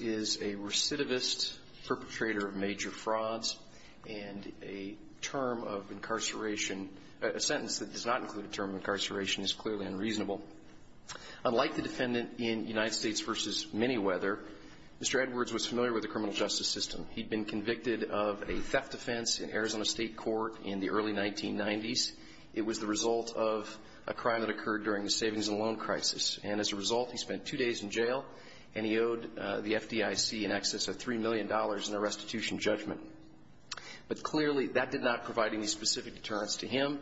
is a recidivist, perpetrator of major frauds, and a sentence that does not include a term of incarceration is clearly unreasonable. Unlike the defendant in United States v. Manyweather, Mr. Edwards was familiar with the criminal justice system. He'd been convicted of a theft offense in Arizona State Court in the early 1990s. It was the result of a crime that occurred during the savings and loan crisis. And as a result, he spent two days in jail, and he owed the FDIC in excess of $3 million in a restitution judgment. But clearly, that did not provide any specific deterrence to him.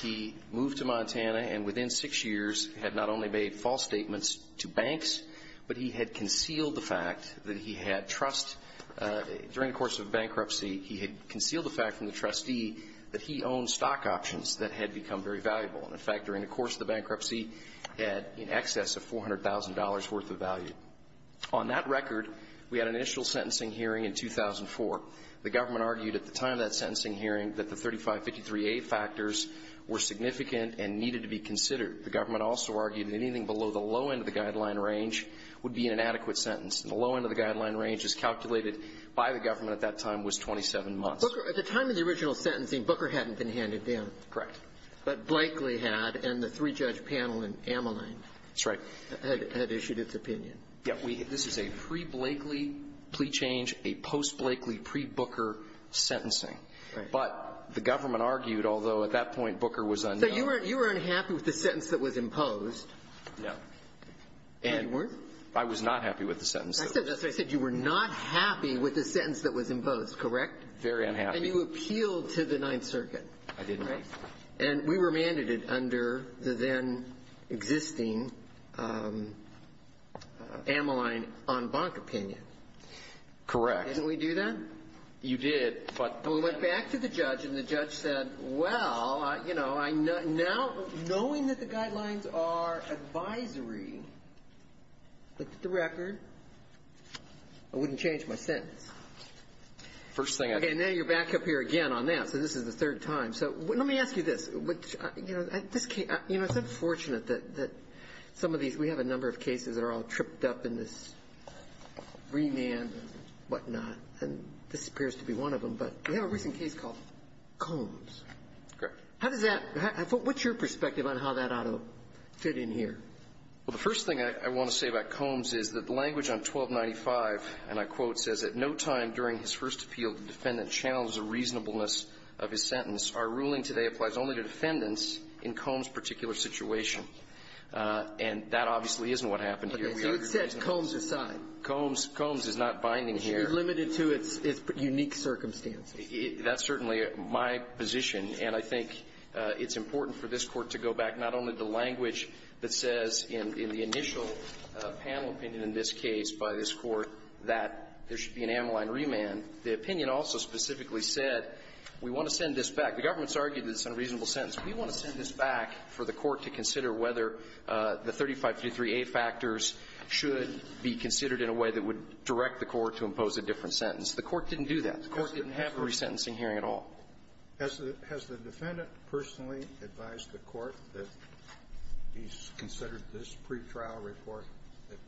He moved to Montana and, within six years, had not only made false statements to banks, but he had concealed the fact that he had trust During the course of the bankruptcy, he had concealed the fact from the trustee that he owned stock options that had become very valuable. And, in fact, during the course of the bankruptcy, he had in excess of $400,000 worth of value. On that record, we had an initial sentencing hearing in 2004. The government argued at the time of that sentencing hearing that the 3553A factors were significant and needed to be considered. The government also argued that anything below the low end of the guideline range would be an inadequate sentence. And the low end of the guideline range, as calculated by the government at that time, was 27 months. At the time of the original sentencing, Booker hadn't been handed down. Correct. But Blakely had, and the three-judge panel in Ameline had issued its opinion. Yes. This is a pre-Blakely plea change, a post-Blakely, pre-Booker sentencing. Right. But the government argued, although at that point, Booker was unknown So you were unhappy with the sentence that was imposed? No. You weren't? I was not happy with the sentence that was imposed. That's what I said. You were not happy with the sentence that was imposed, correct? Very unhappy. And you appealed to the Ninth Circuit. I did not. And we remanded it under the then-existing Ameline en banc opinion. Correct. Didn't we do that? You did, but the And the judge said, well, you know, now, knowing that the guidelines are advisory, look at the record, I wouldn't change my sentence. First thing I did. Okay. Now you're back up here again on that. So this is the third time. So let me ask you this. You know, it's unfortunate that some of these we have a number of cases that are all tripped up in this remand and whatnot, and this appears to be one of them. But we have a recent case called Combs. Correct. How does that – what's your perspective on how that ought to fit in here? Well, the first thing I want to say about Combs is that the language on 1295, and I quote, says, At no time during his first appeal did the defendant challenge the reasonableness of his sentence. Our ruling today applies only to defendants in Combs' particular situation. And that obviously isn't what happened here. So it sets Combs aside. Combs is not binding here. It's limited to its unique circumstances. That's certainly my position. And I think it's important for this Court to go back not only to language that says in the initial panel opinion in this case by this Court that there should be an amyline remand. The opinion also specifically said we want to send this back. The government's argued it's an unreasonable sentence. We want to send this back for the Court to consider whether the 3523A factors should be considered in a way that would direct the Court to impose a different sentence. The Court didn't do that. The Court didn't have a resentencing hearing at all. Has the defendant personally advised the Court that he's considered this pretrial report that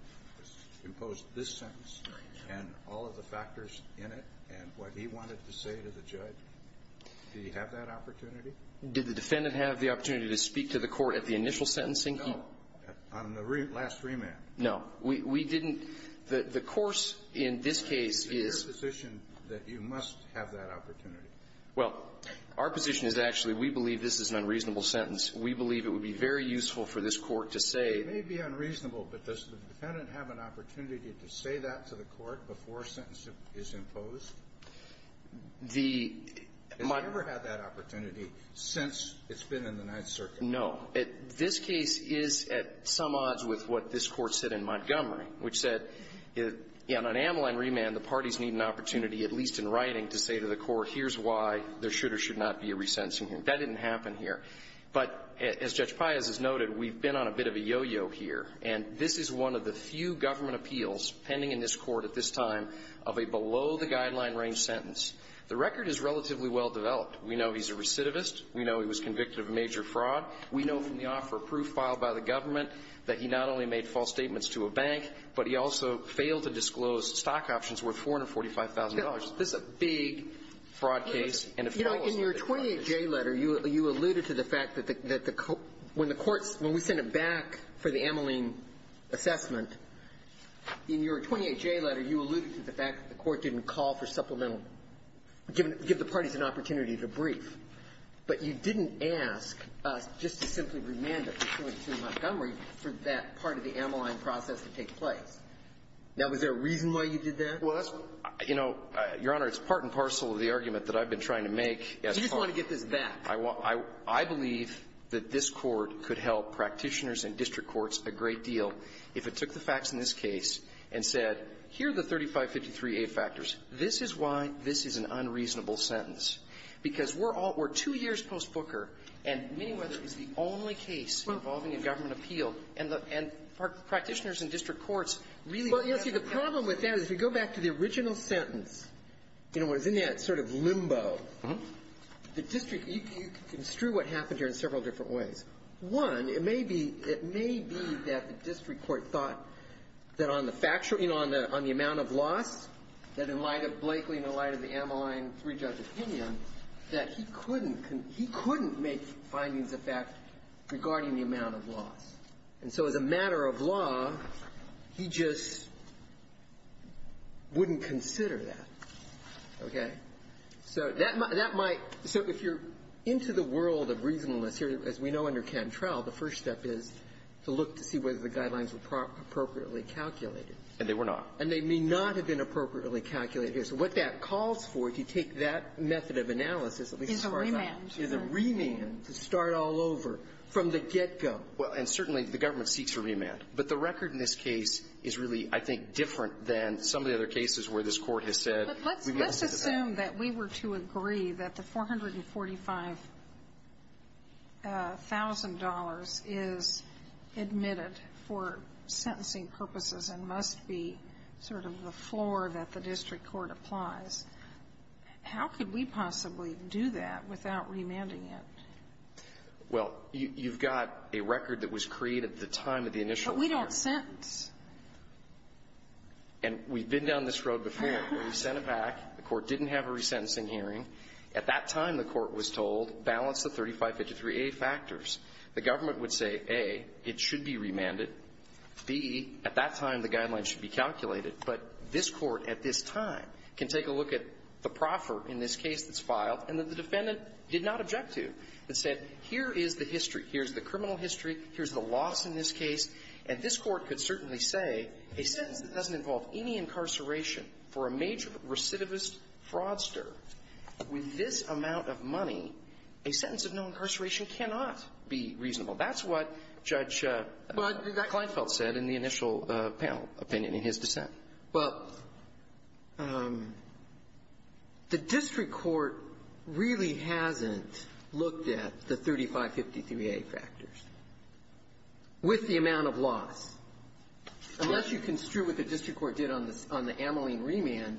imposed this sentence and all of the factors in it and what he wanted to say to the judge? Did he have that opportunity? Did the defendant have the opportunity to speak to the Court at the initial sentencing? No. On the last remand? No. We didn't. The course in this case is — Is it your position that you must have that opportunity? Well, our position is actually we believe this is an unreasonable sentence. We believe it would be very useful for this Court to say — It may be unreasonable, but does the defendant have an opportunity to say that to the Court before a sentence is imposed? The — Has he ever had that opportunity since it's been in the Ninth Circuit? No. This case is at some odds with what this Court said in Montgomery, which said on an amyline remand, the parties need an opportunity, at least in writing, to say to the Court, here's why there should or should not be a resentencing hearing. That didn't happen here. But as Judge Pius has noted, we've been on a bit of a yo-yo here, and this is one of the few government appeals pending in this Court at this time of a below-the-guideline-range sentence. The record is relatively well developed. We know he's a recidivist. We know he was convicted of a major fraud. We know from the offer of proof filed by the government that he not only made false statements to a bank, but he also failed to disclose stock options worth $445,000. This is a big fraud case, and it follows — You know, in your 28J letter, you alluded to the fact that the — when the Court — when we sent it back for the amyline assessment, in your 28J letter, you alluded to the fact that the Court didn't call for supplemental — give the parties an opportunity to brief, but you didn't ask us just to simply remand it to Montgomery for that part of the amyline process to take place. Now, was there a reason why you did that? Well, that's what — You know, Your Honor, it's part and parcel of the argument that I've been trying to make as far as — You just want to get this back. I believe that this Court could help practitioners and district courts a great deal if it took the facts in this case and said, here are the 3553A factors. This is why this is an unreasonable sentence, because we're all — we're two years post-Booker, and Miniweather is the only case involving a government appeal, and the — and practitioners and district courts really — Well, you know, see, the problem with that is, if you go back to the original sentence, you know, it was in that sort of limbo. The district — you can construe what happened here in several different ways. One, it may be — it may be that the district court thought that on the factual — you know, on the amount of loss, that in light of Blakely and in light of the Ammaline three-judge opinion, that he couldn't make findings of fact regarding the amount of loss. And so as a matter of law, he just wouldn't consider that. Okay? So that might — so if you're into the world of reasonableness here, as we know under Cantrell, the first step is to look to see whether the guidelines were appropriately calculated. And they were not. And they may not have been appropriately calculated. So what that calls for, if you take that method of analysis, at least as far as I know — Is a remand. Is a remand to start all over from the get-go. Well, and certainly, the government seeks a remand. But the record in this case is really, I think, different than some of the other cases where this Court has said we've got to look at that. If we assume that we were to agree that the $445,000 is admitted for sentencing purposes and must be sort of the floor that the district court applies, how could we possibly do that without remanding it? Well, you've got a record that was created at the time of the initial — But we don't sentence. And we've been down this road before where we sent it back. The Court didn't have a resentencing hearing. At that time, the Court was told, balance the 3553A factors. The government would say, A, it should be remanded. B, at that time, the guidelines should be calculated. But this Court at this time can take a look at the proffer in this case that's filed and that the defendant did not object to, and said, here is the history. Here's the criminal history. Here's the loss in this case. And this Court could certainly say, a sentence that doesn't involve any incarceration for a major recidivist fraudster with this amount of money, a sentence of no incarceration cannot be reasonable. That's what Judge Kleinfeld said in the initial panel opinion in his dissent. But the district court really hasn't looked at the 3553A factors. With the amount of loss. Unless you construe what the district court did on the Ameline remand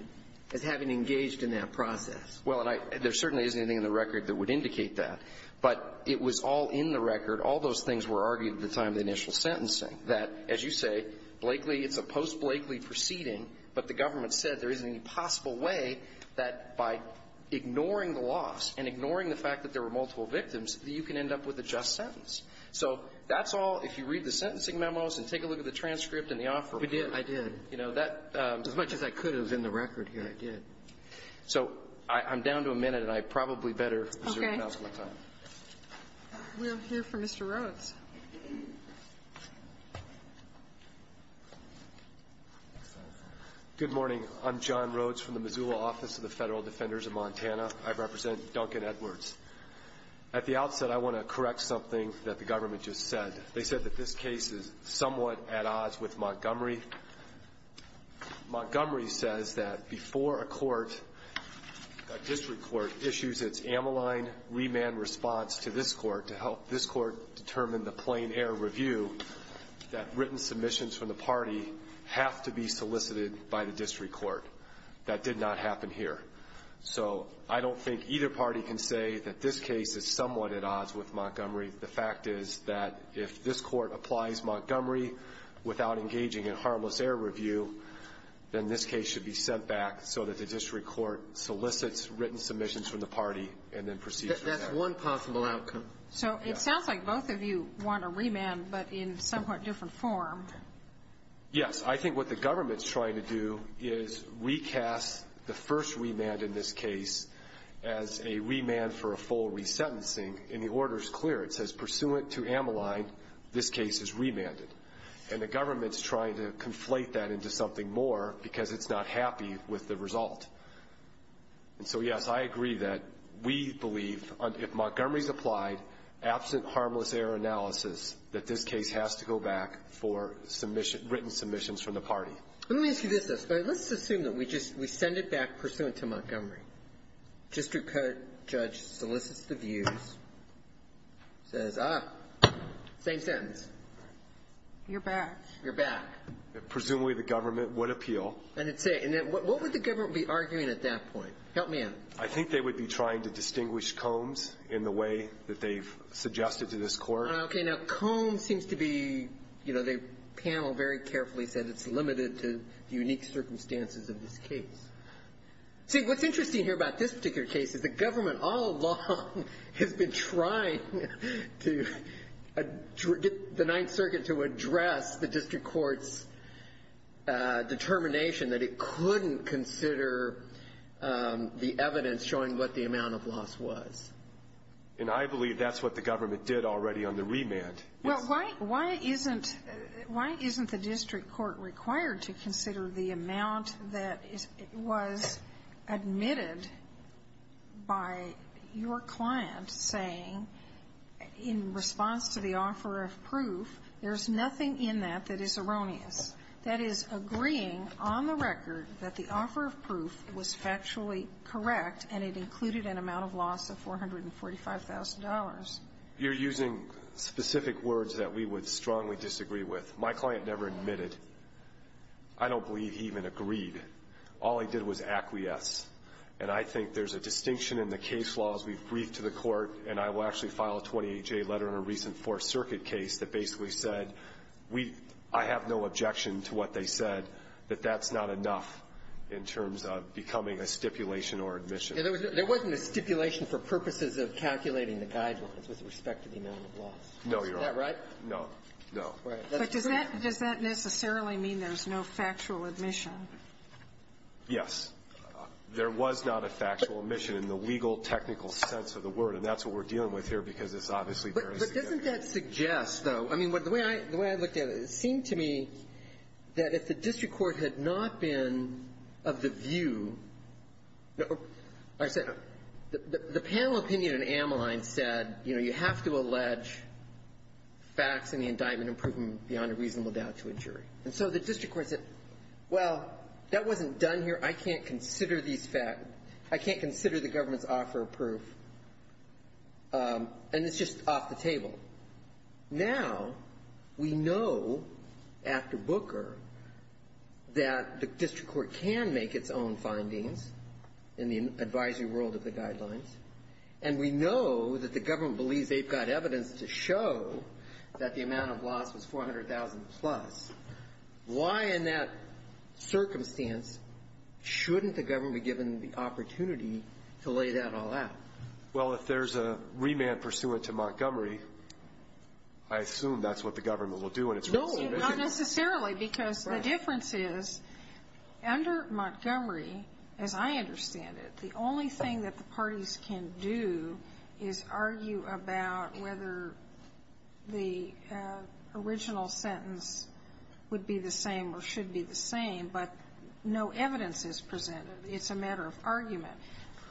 as having engaged in that process. Well, and I – there certainly isn't anything in the record that would indicate that. But it was all in the record. All those things were argued at the time of the initial sentencing. That, as you say, Blakely – it's a post-Blakely proceeding, but the government said there isn't any possible way that by ignoring the loss and ignoring the fact that there were multiple victims, that you can end up with a just sentence. So that's all – if you read the sentencing memos and take a look at the transcript and the offer. We did. I did. You know, that – As much as I could have in the record here, I did. So I'm down to a minute, and I probably better reserve the rest of my time. Okay. We'll hear from Mr. Rhodes. Good morning. I'm John Rhodes from the Missoula Office of the Federal Defenders of Montana. I represent Duncan Edwards. At the outset, I want to correct something that the government just said. They said that this case is somewhat at odds with Montgomery. Montgomery says that before a court, a district court, issues its amyline remand response to this court to help this court determine the plain-air review, that written submissions from the party have to be solicited by the district court. That did not happen here. So I don't think either party can say that this case is somewhat at odds with Montgomery. The fact is that if this court applies Montgomery without engaging in harmless air review, then this case should be sent back so that the district court solicits written submissions from the party and then proceeds from there. That's one possible outcome. So it sounds like both of you want a remand, but in somewhat different form. Yes. I think what the government is trying to do is recast the first remand in this case as a remand for a full resentencing, and the order is clear. It says, pursuant to amyline, this case is remanded. And the government is trying to conflate that into something more because it's not happy with the result. And so, yes, I agree that we believe if Montgomery is applied, absent harmless air analysis, that this case has to go back for written submissions from the party. Let me ask you this, though. Let's assume that we just we send it back pursuant to Montgomery. District court judge solicits the views, says, ah, same sentence. You're back. You're back. Presumably, the government would appeal. And it would say what would the government be arguing at that point? Help me out. I think they would be trying to distinguish combs in the way that they've suggested to this court. Okay. Now, comb seems to be, you know, the panel very carefully said it's limited to the unique circumstances of this case. See, what's interesting here about this particular case is the government all along has been trying to get the Ninth Circuit to address the district court's determination that it couldn't consider the evidence showing what the amount of loss was. And I believe that's what the government did already on the remand. Well, why isn't the district court required to consider the amount that was admitted by your client saying, in response to the offer of proof, there's nothing in that that is erroneous, that is, agreeing on the record that the offer of proof was factually correct and it included an amount of loss of $445,000? You're using specific words that we would strongly disagree with. My client never admitted. I don't believe he even agreed. All he did was acquiesce. And I think there's a distinction in the case law as we've briefed to the court, and I will actually file a 28-J letter in a recent Fourth Circuit case that basically said, we – I have no objection to what they said, that that's not enough in terms of becoming a stipulation or admission. There wasn't a stipulation for purposes of calculating the guidelines with respect to the amount of loss. No, Your Honor. Is that right? No. No. But does that necessarily mean there's no factual admission? Yes. There was not a factual admission in the legal, technical sense of the word, and that's what we're dealing with here because it's obviously very significant. But doesn't that suggest, though, I mean, the way I looked at it, it seemed to me that if the district court had not been of the view – I said – the panel opinion in Ameline said, you know, you have to allege facts in the indictment and prove them beyond a reasonable doubt to a jury. And so the district court said, well, that wasn't done here. I can't consider these facts. I can't consider the government's offer of proof. And it's just off the table. Now we know, after Booker, that the district court can make its own findings in the advisory world of the guidelines, and we know that the government believes they've got evidence to show that the amount of loss was $400,000-plus. Why in that circumstance shouldn't the government be given the opportunity to lay that all out? Well, if there's a remand pursuant to Montgomery, I assume that's what the government will do in its resolution. No, not necessarily because the difference is under Montgomery, as I understand it, the only thing that the parties can do is argue about whether the original sentence would be the same or should be the same, but no evidence is presented. It's a matter of argument.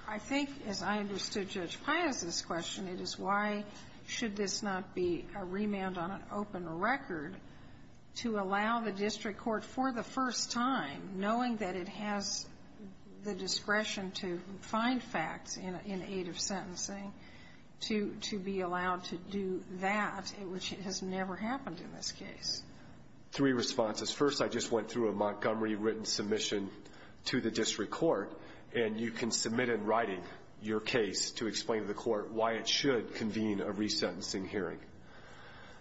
I think, as I understood Judge Paia's question, it is why should this not be a remand on an open record to allow the district court for the first time, knowing that it has the discretion to find facts in aid of sentencing, to be allowed to do that, which has never happened in this case? Three responses. First, I just went through a Montgomery written submission to the district court, and you can submit in writing your case to explain to the court why it should convene a resentencing hearing.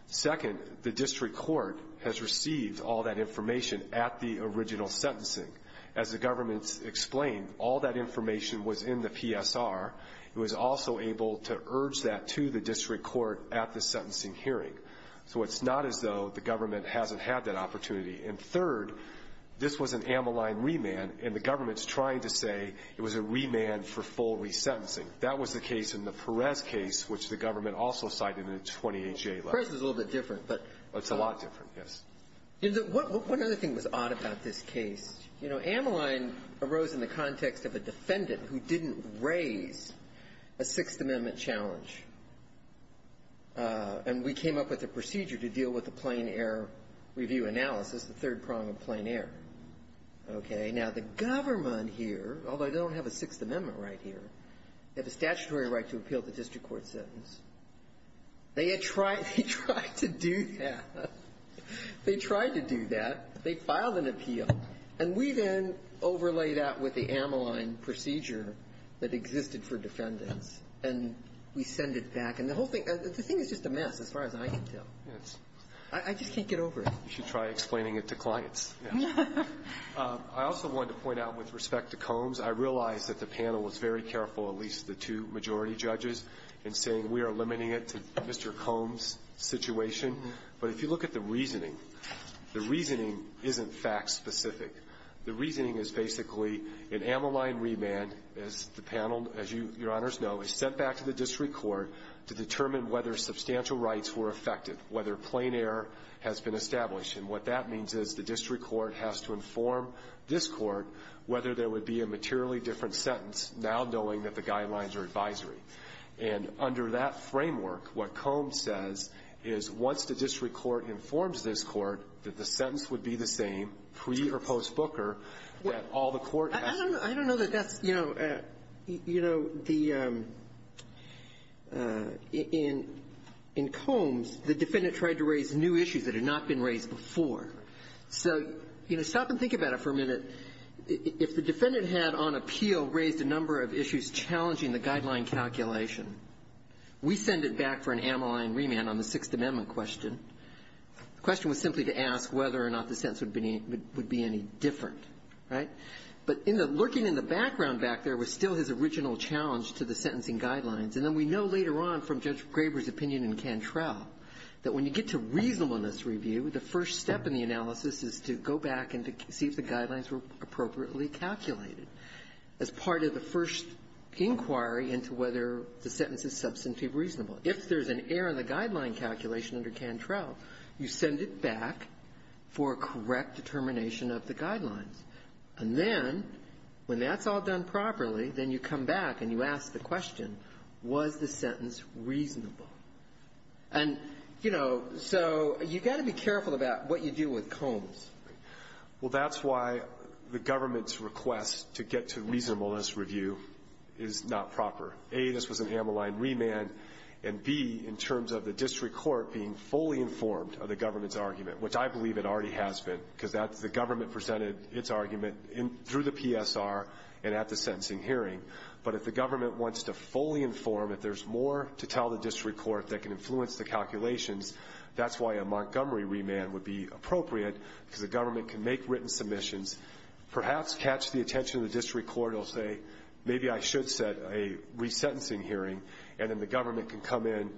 Second, the district court has received all that information at the original sentencing. As the government's explained, all that information was in the PSR. It was also able to urge that to the district court at the sentencing hearing. So it's not as though the government hasn't had that opportunity. And third, this was an Ammaline remand, and the government's trying to say it was a remand for full resentencing. That was the case in the Perez case, which the government also cited in the 28-J letter. Perez was a little bit different, but — It's a lot different, yes. One other thing that was odd about this case, you know, Ammaline arose in the context of a defendant who didn't raise a Sixth Amendment challenge, and we came up with a procedure to deal with the plain error review analysis, the third prong of plain error. Okay. Now, the government here, although they don't have a Sixth Amendment right here, they have a statutory right to appeal the district court sentence. They had tried — they tried to do that. They tried to do that. They filed an appeal. And we then overlay that with the Ammaline procedure that existed for defendants, and we send it back. And the whole thing — the thing is just a mess, as far as I can tell. Yes. I just can't get over it. You should try explaining it to clients. Yes. I also wanted to point out, with respect to Combs, I realize that the panel was very careful, at least the two majority judges, in saying we are limiting it to Mr. Combs' situation. But if you look at the reasoning, the reasoning isn't fact-specific. know is sent back to the district court to determine whether substantial rights were affected, whether plain error has been established. And what that means is the district court has to inform this court whether there would be a materially different sentence, now knowing that the guidelines are advisory. And under that framework, what Combs says is once the district court informs this court that the sentence would be the same, pre- or post-Booker, that all the court has to do. In Combs, the defendant tried to raise new issues that had not been raised before. So, you know, stop and think about it for a minute. If the defendant had, on appeal, raised a number of issues challenging the guideline calculation, we send it back for an amyline remand on the Sixth Amendment question. The question was simply to ask whether or not the sentence would be any different. Right? But in the looking in the background back there was still his original challenge to the sentencing guidelines. And then we know later on from Judge Graber's opinion in Cantrell that when you get to reasonableness review, the first step in the analysis is to go back and see if the guidelines were appropriately calculated as part of the first inquiry into whether the sentence is substantively reasonable. If there's an error in the guideline calculation under Cantrell, you send it back for correct determination of the guidelines. And then when that's all done properly, then you come back and you ask the question, was the sentence reasonable? And, you know, so you've got to be careful about what you do with Combs. Well, that's why the government's request to get to reasonableness review is not proper. A, this was an amyline remand, and B, in terms of the district court being fully informed of the government's argument, which I believe it already has been because that's the government presented its argument through the PSR and at the sentencing hearing. But if the government wants to fully inform, if there's more to tell the district court that can influence the calculations, that's why a Montgomery remand would be appropriate because the government can make written submissions, perhaps catch the attention of the district court. It'll say, maybe I should set a resentencing hearing. And then the government can come in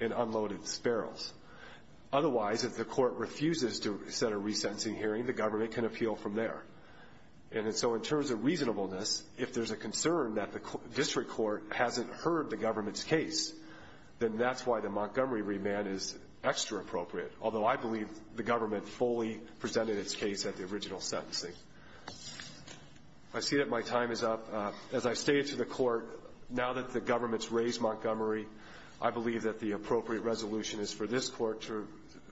and unload its barrels. Otherwise, if the court refuses to set a resentencing hearing, the government can appeal from there. And so in terms of reasonableness, if there's a concern that the district court hasn't heard the government's case, then that's why the Montgomery remand is extra appropriate, although I believe the government fully presented its case at the original sentencing. I see that my time is up. As I stated to the court, now that the government's raised Montgomery, I believe that the appropriate resolution is for this court to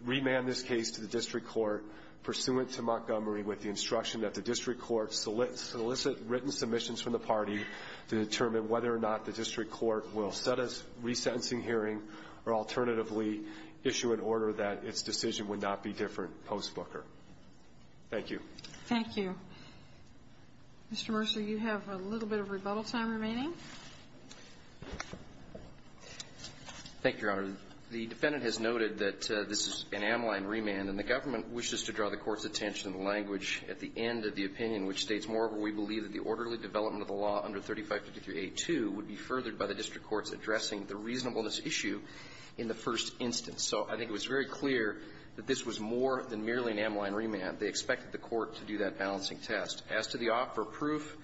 remand this case to the district court pursuant to Montgomery with the instruction that the district court solicit written submissions from the party to determine whether or not the district court will set a resentencing hearing or alternatively issue an order that its decision would not be different post-Booker. Thank you. Thank you. Mr. Mercer, you have a little bit of rebuttal time remaining. Thank you, Your Honor. The defendant has noted that this is an amline remand and the government wishes to draw the court's attention to the language at the end of the opinion, which states, moreover, we believe that the orderly development of the law under 3553A2 would be furthered by the district court's addressing the reasonableness issue in the first instance. So I think it was very clear that this was more than merely an amline remand. They expected the court to do that balancing test. As to the offer of proof,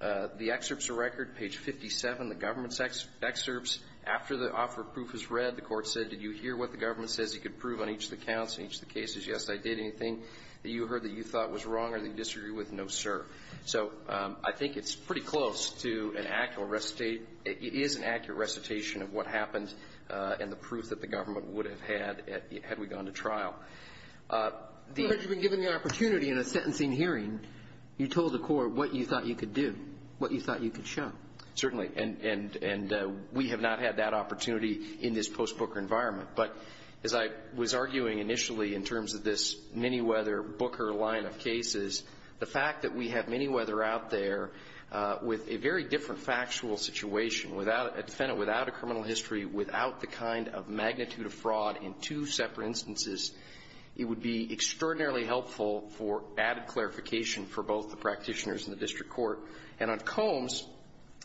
the excerpt's a record, page 57, the government's excerpts. After the offer of proof was read, the court said, did you hear what the government says you could prove on each of the counts in each of the cases? Yes, I did. Anything that you heard that you thought was wrong or that you disagreed with, no, sir. So I think it's pretty close to an accurate recitation of what happened and the proof that the government would have had had we gone to trial. But you've been given the opportunity in a sentencing hearing, you told the court what you thought you could do, what you thought you could show. Certainly. And we have not had that opportunity in this post-Booker environment. But as I was arguing initially in terms of this Minneweather-Booker line of cases, the fact that we have Minneweather out there with a very different factual situation without a defendant, without a criminal history, without the kind of magnitude of fraud in two separate instances, it would be extraordinarily helpful for added clarification for both the practitioners and the district court. And on Combs,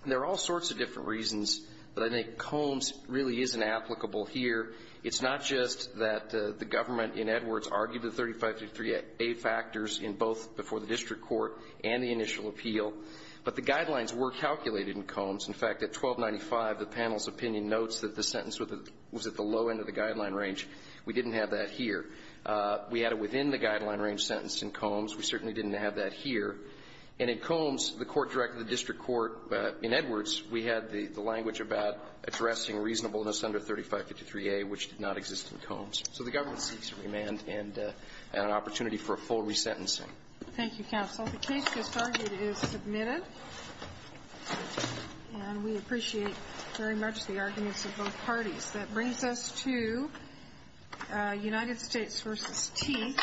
there are all sorts of different reasons, but I think Combs really isn't applicable here. It's not just that the government in Edwards argued the 35 to 38 factors in both before the district court and the initial appeal, but the guidelines were calculated in Combs. In fact, at 1295, the panel's opinion notes that the sentence was at the low end of the guideline range. We didn't have that here. We had it within the guideline range sentence in Combs. We certainly didn't have that here. And in Combs, the court directed the district court in Edwards, we had the language about addressing reasonableness under 3553A, which did not exist in Combs. So the government seeks remand and an opportunity for a full resentencing. Thank you, counsel. The case just argued is submitted. And we appreciate very much the arguments of both parties. That brings us to United States v. T.